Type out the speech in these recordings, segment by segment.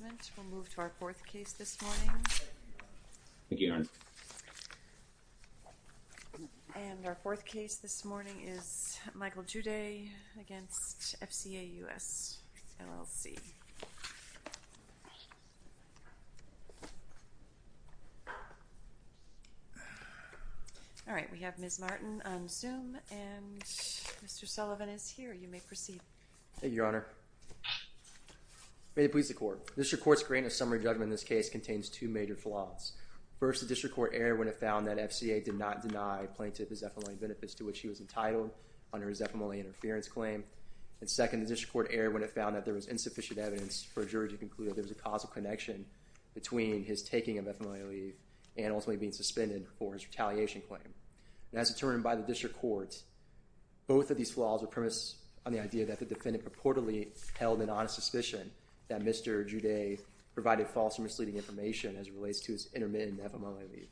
We'll move to our fourth case this morning. Thank you, Your Honor. And our fourth case this morning is Michael Juday v. FCA US LLC. All right, we have Ms. Martin on Zoom, and Mr. Sullivan is here. You may proceed. Thank you, Your Honor. May it please the Court. The District Court's grant of summary judgment in this case contains two major flaws. First, the District Court erred when it found that FCA did not deny Plaintiff his FMLA benefits to which he was entitled under his FMLA interference claim. And second, the District Court erred when it found that there was insufficient evidence for a jury to conclude that there was a causal connection between his taking of FMLA leave and ultimately being suspended for his retaliation claim. And as determined by the District Court, both of these flaws were premised on the idea that the defendant purportedly held an honest suspicion that Mr. Juday provided false and misleading information as it relates to his intermittent FMLA leave.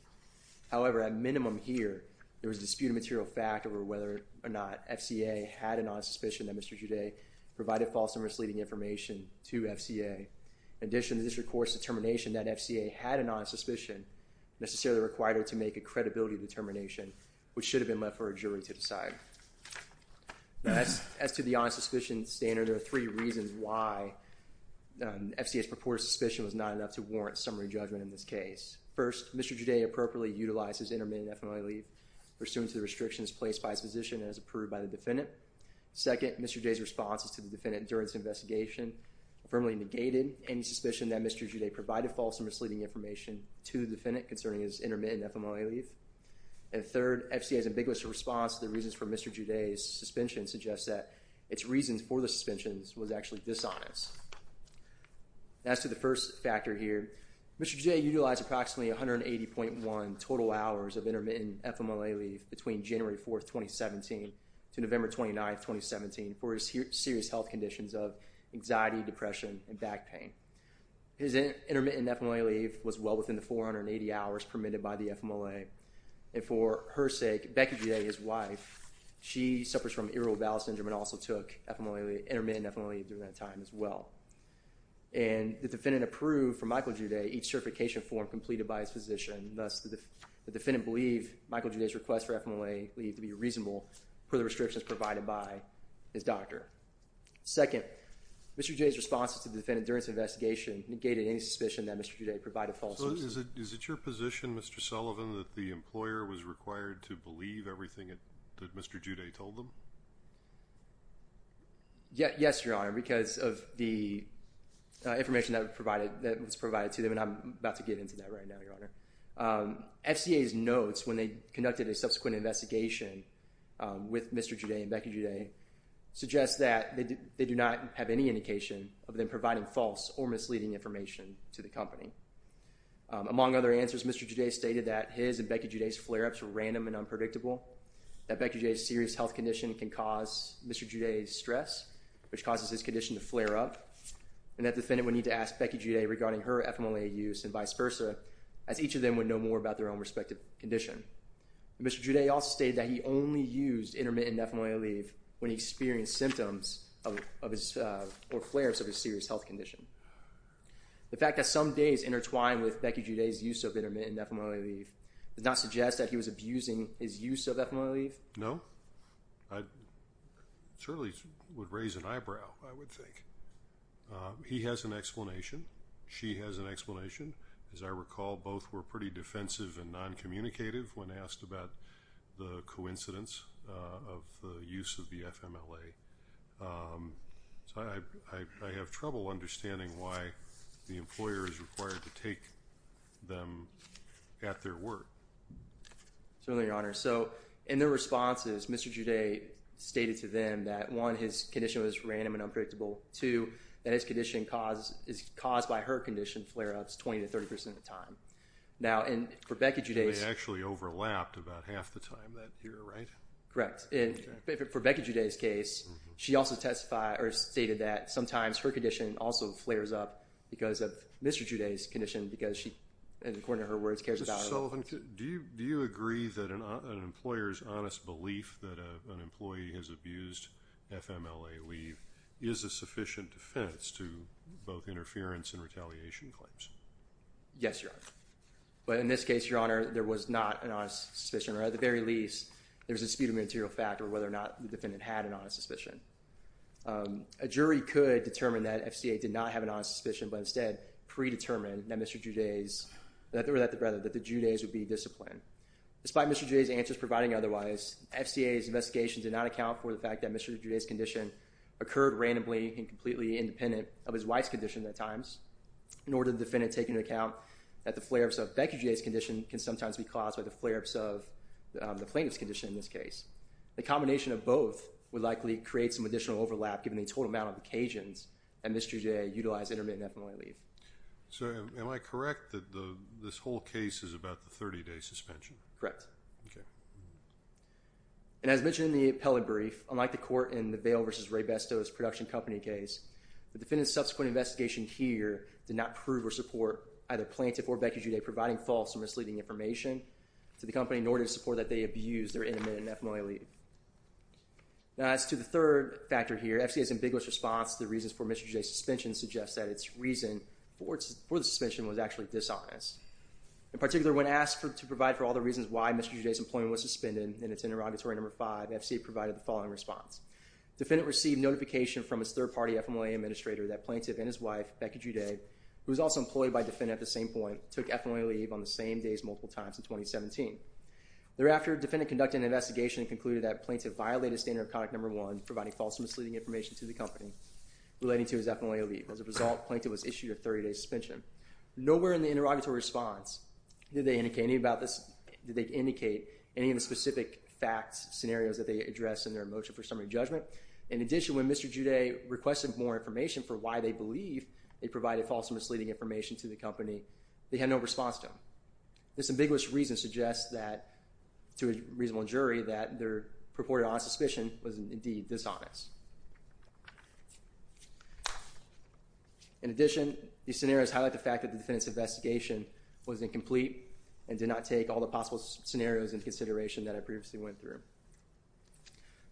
However, at minimum here, there was a disputed material fact over whether or not FCA had an honest suspicion that Mr. Juday provided false and misleading information to FCA. In addition, the District Court's determination that FCA had an honest suspicion necessarily required it to make a credibility determination, which should have been left for a jury to decide. As to the honest suspicion standard, there are three reasons why FCA's purported suspicion was not enough to warrant summary judgment in this case. First, Mr. Juday appropriately utilized his intermittent FMLA leave pursuant to the restrictions placed by his position as approved by the defendant. Second, Mr. Juday's responses to the defendant during this investigation firmly negated any suspicion that Mr. Juday provided false and misleading information to the defendant concerning his intermittent FMLA leave. And third, FCA's ambiguous response to the reasons for Mr. Juday's suspension suggests that its reasons for the suspensions was actually dishonest. As to the first factor here, Mr. Juday utilized approximately 180.1 total hours of intermittent FMLA leave between January 4, 2017 to November 29, 2017 for his serious health conditions of anxiety, depression, and back pain. His intermittent FMLA leave was well within the 480 hours permitted by the FMLA. And for her sake, Becky Juday, his wife, she suffers from irritable bowel syndrome and also took intermittent FMLA leave during that time as well. And the defendant approved for Michael Juday each certification form completed by his physician. Thus, the defendant believed Michael Juday's request for FMLA leave to be reasonable per the restrictions provided by his doctor. Second, Mr. Juday's responses to the defendant during this investigation negated any suspicion that Mr. Juday provided false or misleading information. Is it your position, Mr. Sullivan, that the employer was required to believe everything that Mr. Juday told them? Yes, Your Honor, because of the information that was provided to them, and I'm about to get into that right now, Your Honor. FCA's notes when they conducted a subsequent investigation with Mr. Juday and Becky Juday suggests that they do not have any indication of them providing false or misleading information to the company. Among other answers, Mr. Juday stated that his and Becky Juday's flare-ups were random and unpredictable, that Becky Juday's serious health condition can cause Mr. Juday's stress, which causes his condition to flare up, and that the defendant would need to ask Becky Juday regarding her FMLA use and vice versa, as each of them would know more about their own respective condition. Mr. Juday also stated that he only used intermittent FMLA leave when he experienced symptoms or flare-ups of his serious health condition. The fact that some days intertwine with Becky Juday's use of intermittent FMLA leave does not suggest that he was abusing his use of FMLA leave? No. I certainly would raise an eyebrow, I would think. He has an explanation. She has an explanation. As I recall, both were pretty defensive and noncommunicative when asked about the coincidence of the use of the FMLA. So, I have trouble understanding why the employer is required to take them at their word. Certainly, Your Honor. So, in their responses, Mr. Juday stated to them that, one, his condition was random and unpredictable, two, that his condition is caused by her condition flare-ups 20 to 30 percent of the time. Now, for Becky Juday's… They actually overlapped about half the time that year, right? Correct. And for Becky Juday's case, she also testified or stated that sometimes her condition also flares up because of Mr. Juday's condition, because she, according to her words, cares about her. Mr. Sullivan, do you agree that an employer's honest belief that an employee has abused FMLA leave is a sufficient defense to both interference and retaliation claims? Yes, Your Honor. But in this case, Your Honor, there was not an honest suspicion. Or at the very least, there was a dispute of material fact or whether or not the defendant had an honest suspicion. A jury could determine that FCA did not have an honest suspicion, but instead predetermined that Mr. Juday's… Or that the Juday's would be disciplined. Despite Mr. Juday's answers providing otherwise, FCA's investigation did not account for the fact that Mr. Juday's condition occurred randomly and completely independent of his wife's condition at times, nor did the defendant take into account that the flare-ups of Becky Juday's condition can sometimes be caused by the flare-ups of the plaintiff's condition in this case. The combination of both would likely create some additional overlap given the total amount of occasions that Mr. Juday utilized intermittent FMLA leave. So, am I correct that this whole case is about the 30-day suspension? Correct. Okay. And as mentioned in the appellate brief, unlike the court in the Vail v. Raybesto's production company case, the defendant's subsequent investigation here did not prove or support either plaintiff or Becky Juday providing false or misleading information to the company, nor did it support that they abused their intermittent FMLA leave. Now, as to the third factor here, FCA's ambiguous response to the reasons for Mr. Juday's suspension suggests that its reason for the suspension was actually dishonest. In particular, when asked to provide for all the reasons why Mr. Juday's employment was suspended in its interrogatory number 5, FCA provided the following response. Defendant received notification from his third-party FMLA administrator that plaintiff and his wife, Becky Juday, who was also employed by defendant at the same point, took FMLA leave on the same days multiple times in 2017. Thereafter, defendant conducted an investigation and concluded that plaintiff violated standard of conduct number 1, providing false or misleading information to the company relating to his FMLA leave. As a result, plaintiff was issued a 30-day suspension. Nowhere in the interrogatory response did they indicate any of the specific facts, scenarios that they addressed in their motion for summary judgment. In addition, when Mr. Juday requested more information for why they believe they provided false or misleading information to the company, they had no response to him. This ambiguous reason suggests to a reasonable jury that their purported honest suspicion was indeed dishonest. In addition, these scenarios highlight the fact that the defendant's investigation was incomplete and did not take all the possible scenarios into consideration that I previously went through.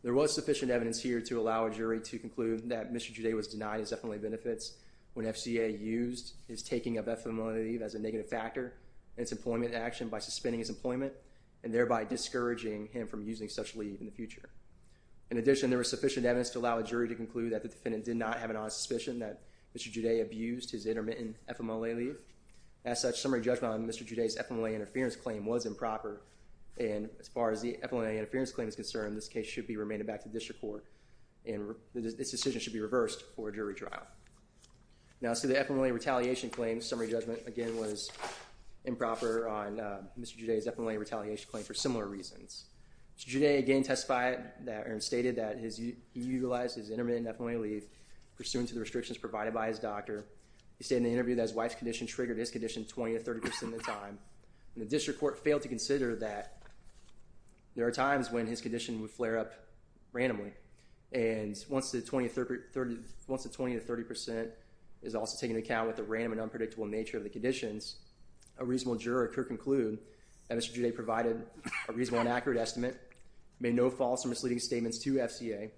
There was sufficient evidence here to allow a jury to conclude that Mr. Juday was denied his FMLA benefits when FCA used his taking of FMLA leave as a negative factor in its employment action by suspending his employment and thereby discouraging him from using such leave in the future. In addition, there was sufficient evidence to allow a jury to conclude that the defendant did not have an honest suspicion that Mr. Juday abused his intermittent FMLA leave. As such, summary judgment on Mr. Juday's FMLA interference claim was improper, and as far as the FMLA interference claim is concerned, this case should be remanded back to district court and this decision should be reversed for a jury trial. Now, as to the FMLA retaliation claim, summary judgment again was improper on Mr. Juday's FMLA retaliation claim for similar reasons. Mr. Juday again testified that or stated that he utilized his intermittent FMLA leave pursuant to the restrictions provided by his doctor. He stated in the interview that his wife's condition triggered his condition 20 to 30 percent of the time, and the district court failed to consider that there are times when his condition would flare up randomly, and once the 20 to 30 percent is also taken into account with the random and unpredictable nature of the conditions, a reasonable juror could conclude that Mr. Juday provided a reasonable and accurate estimate, made no false or misleading statements to FCA,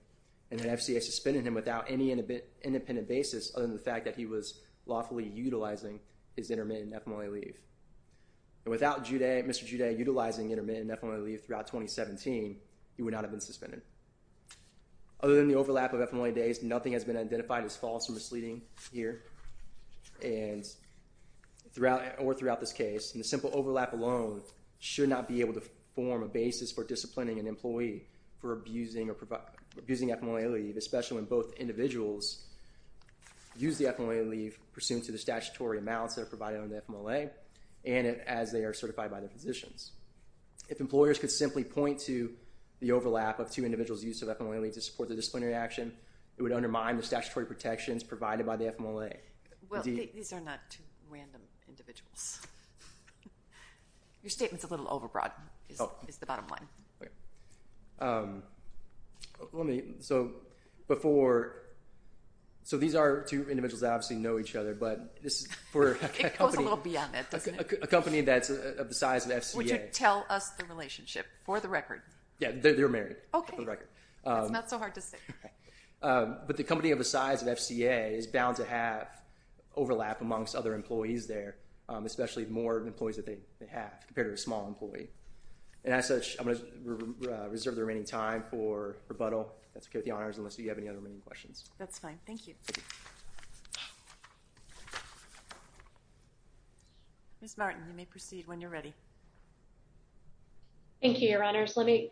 and that FCA suspended him without any independent basis other than the fact that he was lawfully utilizing his intermittent FMLA leave. And without Mr. Juday utilizing intermittent FMLA leave throughout 2017, he would not have been suspended. Other than the overlap of FMLA days, nothing has been identified as false or misleading here, or throughout this case. And the simple overlap alone should not be able to form a basis for disciplining an employee for abusing FMLA leave, especially when both individuals use the FMLA leave pursuant to the statutory amounts that are provided on the FMLA, and as they are certified by their physicians. If employers could simply point to the overlap of two individuals' use of FMLA leave to support the disciplinary action, it would undermine the statutory protections provided by the FMLA. Well, these are not two random individuals. Your statement's a little overbroad, is the bottom line. Okay. Let me, so before, so these are two individuals that obviously know each other, but this is for a company. It goes a little beyond that, doesn't it? A company that's of the size of FCA. Would you tell us the relationship, for the record? Yeah, they're married, for the record. That's not so hard to say. But the company of the size of FCA is bound to have overlap amongst other employees there, especially more employees that they have compared to a small employee. And as such, I'm going to reserve the remaining time for rebuttal. That's okay with the honors, unless you have any other remaining questions. That's fine. Thank you. Ms. Martin, you may proceed when you're ready. Thank you, Your Honors. Let me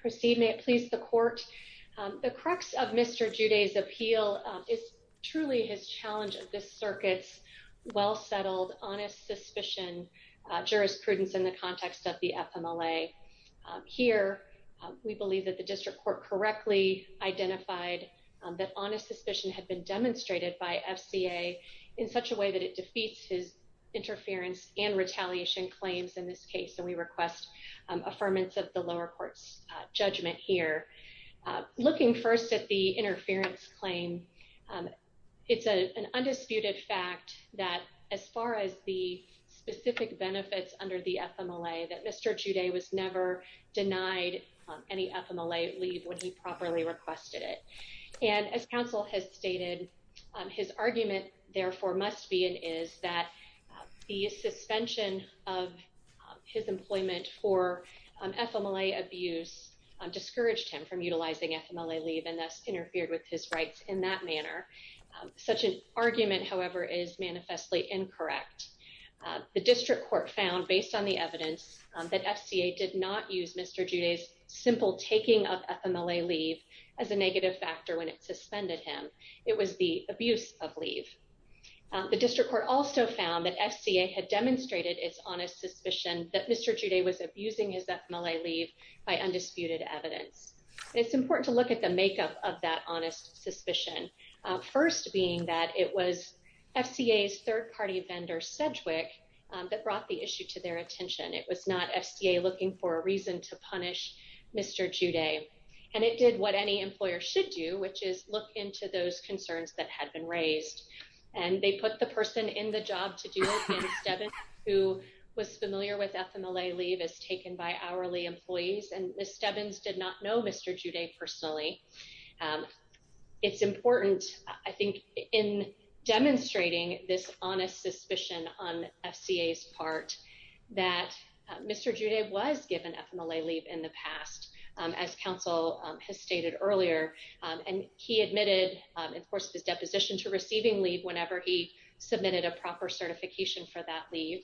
proceed. May it please the court. The crux of Mr. Joudet's appeal is truly his challenge of this circuit's well-settled, honest suspicion, jurisprudence in the context of the FMLA. Here, we believe that the district court correctly identified that honest suspicion had been demonstrated by FCA in such a way that it defeats his interference and retaliation claims in this case. And we request affirmance of the lower court's judgment here. Looking first at the interference claim, it's an undisputed fact that as far as the specific benefits under the FMLA, that Mr. Joudet was never denied any FMLA leave when he properly requested it. And as counsel has stated, his argument, therefore, must be and is that the suspension of his employment for FMLA abuse discouraged him from utilizing FMLA leave and thus interfered with his rights in that manner. Such an argument, however, is manifestly incorrect. The district court found, based on the evidence, that FCA did not use Mr. Joudet's simple taking of FMLA leave as a negative factor when it suspended him. It was the abuse of leave. The district court also found that FCA had demonstrated its honest suspicion that Mr. Joudet was abusing his FMLA leave by undisputed evidence. It's important to look at the makeup of that honest suspicion, first being that it was FCA's third-party vendor, Sedgwick, that brought the issue to their attention. It was not FCA looking for a reason to punish Mr. Joudet. And it did what any employer should do, which is look into those concerns that had been raised. And they put the person in the job to do it, Ms. Stebbins, who was familiar with FMLA leave as taken by hourly employees. And Ms. Stebbins did not know Mr. Joudet personally. It's important, I think, in demonstrating this honest suspicion on FCA's part that Mr. Joudet was given FMLA leave in the past, as counsel has stated earlier. And he admitted, of course, his deposition to receiving leave whenever he submitted a proper certification for that leave.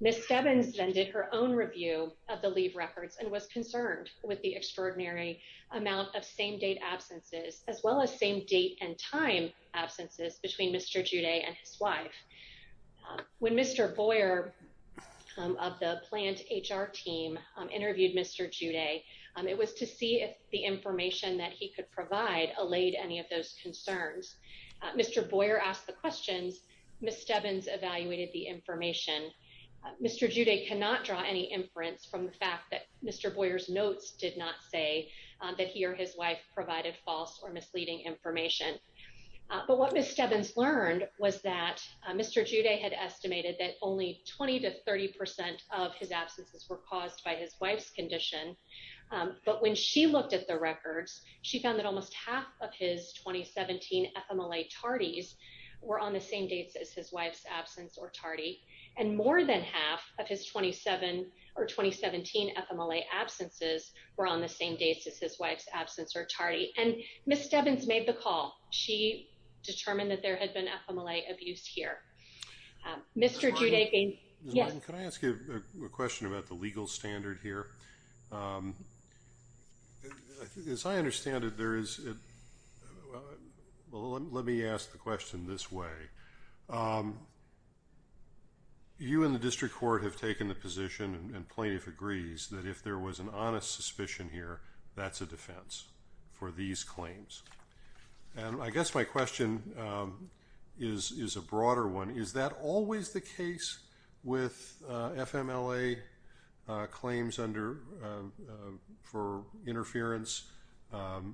Ms. Stebbins then did her own review of the leave records and was concerned with the extraordinary amount of same-date absences, as well as same-date-and-time absences between Mr. Joudet and his wife. When Mr. Boyer of the plant HR team interviewed Mr. Joudet, it was to see if the information that he could provide allayed any of those concerns. Mr. Boyer asked the questions. Ms. Stebbins evaluated the information. Mr. Joudet cannot draw any inference from the fact that Mr. Boyer's notes did not say that he or his wife provided false or misleading information. But what Ms. Stebbins learned was that Mr. Joudet had estimated that only 20 to 30 percent of his absences were caused by his wife's condition. But when she looked at the records, she found that almost half of his 2017 FMLA tardies were on the same dates as his wife's absence or tardy, and more than half of his 2017 FMLA absences were on the same dates as his wife's absence or tardy. And Ms. Stebbins made the call. She determined that there had been FMLA abuse here. Mr. Joudet being. Yes. Can I ask you a question about the legal standard here? As I understand it, there is. Well, let me ask the question this way. You and the district court have taken the position and plaintiff agrees that if there was an honest suspicion here, that's a defense for these claims. And I guess my question is a broader one. Is that always the case with FMLA claims under for interference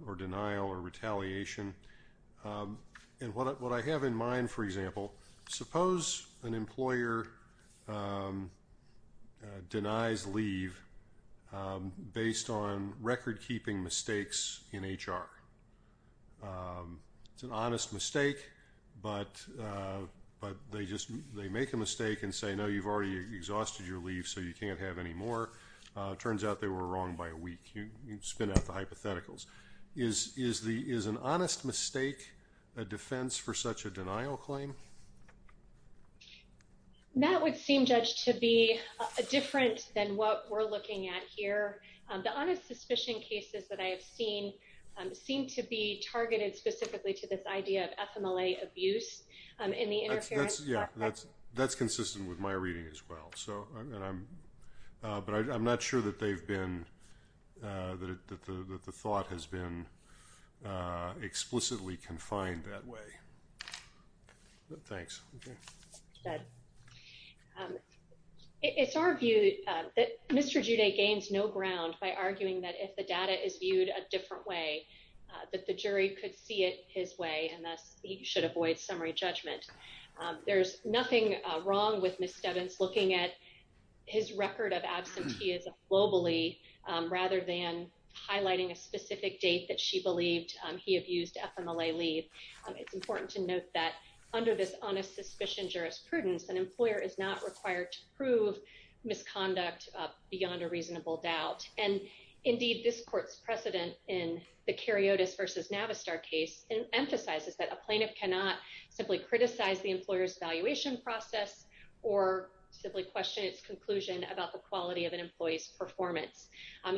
or denial or retaliation? And what I have in mind, for example, suppose an employer denies leave based on record keeping mistakes in H.R. It's an honest mistake, but they just they make a mistake and say, no, you've already exhausted your leave, so you can't have any more. Turns out they were wrong by a week. You spin out the hypotheticals. Is is the is an honest mistake a defense for such a denial claim? That would seem, Judge, to be different than what we're looking at here. The honest suspicion cases that I have seen seem to be targeted specifically to this idea of FMLA abuse in the. That's consistent with my reading as well. So I'm but I'm not sure that they've been that the thought has been explicitly confined that way. Thanks. But it's our view that Mr. Junaid gains no ground by arguing that if the data is viewed a different way, that the jury could see it his way. And thus, he should avoid summary judgment. There's nothing wrong with Miss Stebbins looking at his record of absenteeism globally rather than highlighting a specific date that she believed he abused FMLA leave. It's important to note that under this honest suspicion jurisprudence, an employer is not required to prove misconduct beyond a reasonable doubt. And indeed, this court's precedent in the Karyotis versus Navistar case emphasizes that a plaintiff cannot simply criticize the employer's valuation process or simply question its conclusion about the quality of an employee's performance.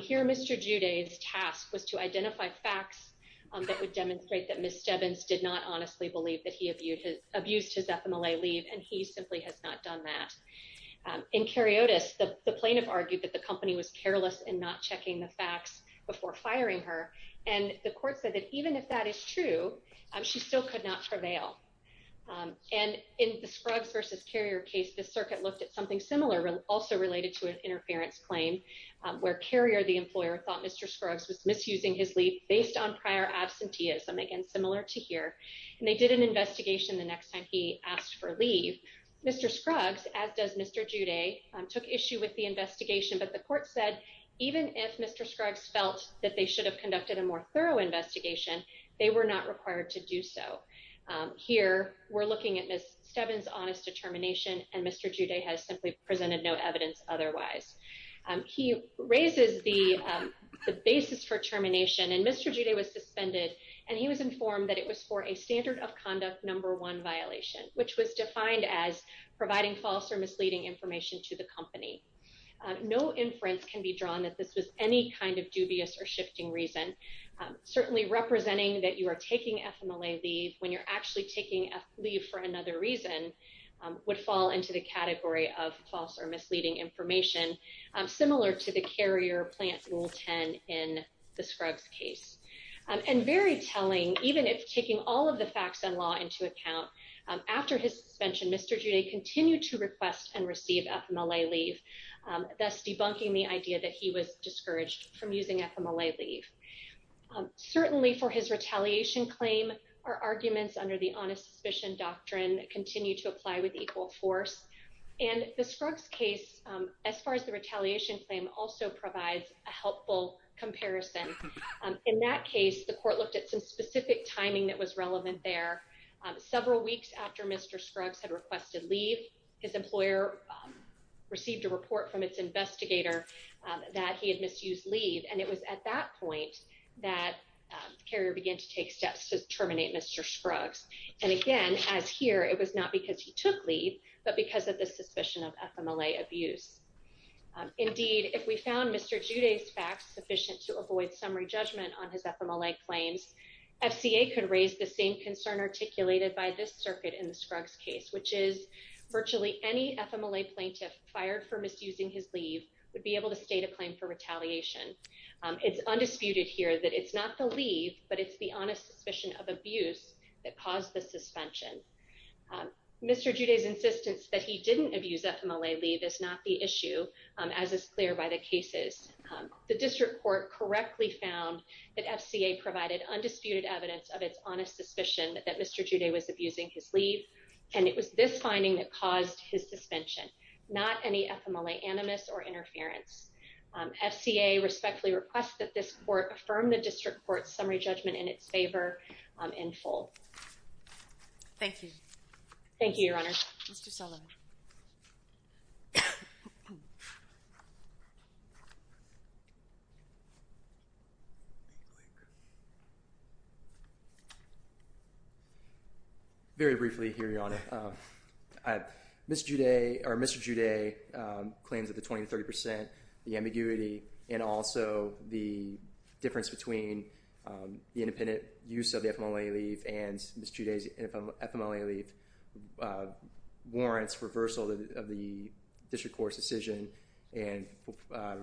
Here, Mr. Junaid's task was to identify facts that would demonstrate that Miss Stebbins did not honestly believe that he abused his FMLA leave and he simply has not done that. In Karyotis, the plaintiff argued that the company was careless and not checking the facts before firing her, and the court said that even if that is true, she still could not prevail. And in the Scruggs versus Carrier case, the circuit looked at something similar, also related to an interference claim where Carrier, the employer, thought Mr. Scruggs was misusing his leave based on prior absenteeism, again, similar to here. And they did an investigation the next time he asked for leave. Mr. Scruggs, as does Mr. Junaid, took issue with the investigation, but the court said, even if Mr. Scruggs felt that they should have conducted a more thorough investigation, they were not required to do so. Here, we're looking at Miss Stebbins' honest determination and Mr. Junaid has simply presented no evidence otherwise. He raises the basis for termination and Mr. Junaid was suspended and he was informed that it was for a standard of conduct number one violation, which was defined as providing false or misleading information to the company. No inference can be drawn that this was any kind of dubious or shifting reason. Certainly, representing that you are taking FMLA leave when you're actually taking leave for another reason would fall into the category of false or misleading information, similar to the Carrier Plant Rule 10 in the Scruggs case. And very telling, even if taking all of the facts and law into account, after his suspension, Mr. Junaid continued to request and receive FMLA leave, thus debunking the idea that he was discouraged from using FMLA leave. Certainly, for his retaliation claim, our arguments under the honest suspicion doctrine continue to apply with equal force. And the Scruggs case, as far as the retaliation claim, also provides a helpful comparison. In that case, the court looked at some specific timing that was relevant there. Several weeks after Mr. Scruggs had requested leave, his employer received a report from its investigator that he had misused leave. And it was at that point that Carrier began to take steps to terminate Mr. Scruggs. And again, as here, it was not because he took leave, but because of the suspicion of FMLA abuse. Indeed, if we found Mr. Junaid's facts sufficient to avoid summary judgment on his FMLA claims, FCA could raise the same concern articulated by this circuit in the Scruggs case, which is virtually any FMLA plaintiff fired for misusing his leave would be able to state a claim for retaliation. It's undisputed here that it's not the leave, but it's the honest suspicion of abuse that caused the suspension. Mr. Junaid's insistence that he didn't abuse FMLA leave is not the issue, as is clear by the cases. The district court correctly found that FCA provided undisputed evidence of its honest suspicion that Mr. Junaid was abusing his leave. And it was this finding that caused his suspension, not any FMLA animus or interference. FCA respectfully requests that this court affirm the district court's summary judgment in its favor in full. Thank you. Thank you, Your Honor. Mr. Sullivan. Very briefly, Your Honor, Mr. Junaid claims that the 20 to 30 percent, the ambiguity, and also the difference between the independent use of the FMLA leave and Ms. Junaid's FMLA leave warrants reversal of the district court's decision and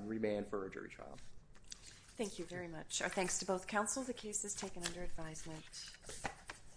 remand for a jury trial. Thank you very much. Our thanks to both counsel. The case is taken under advisement.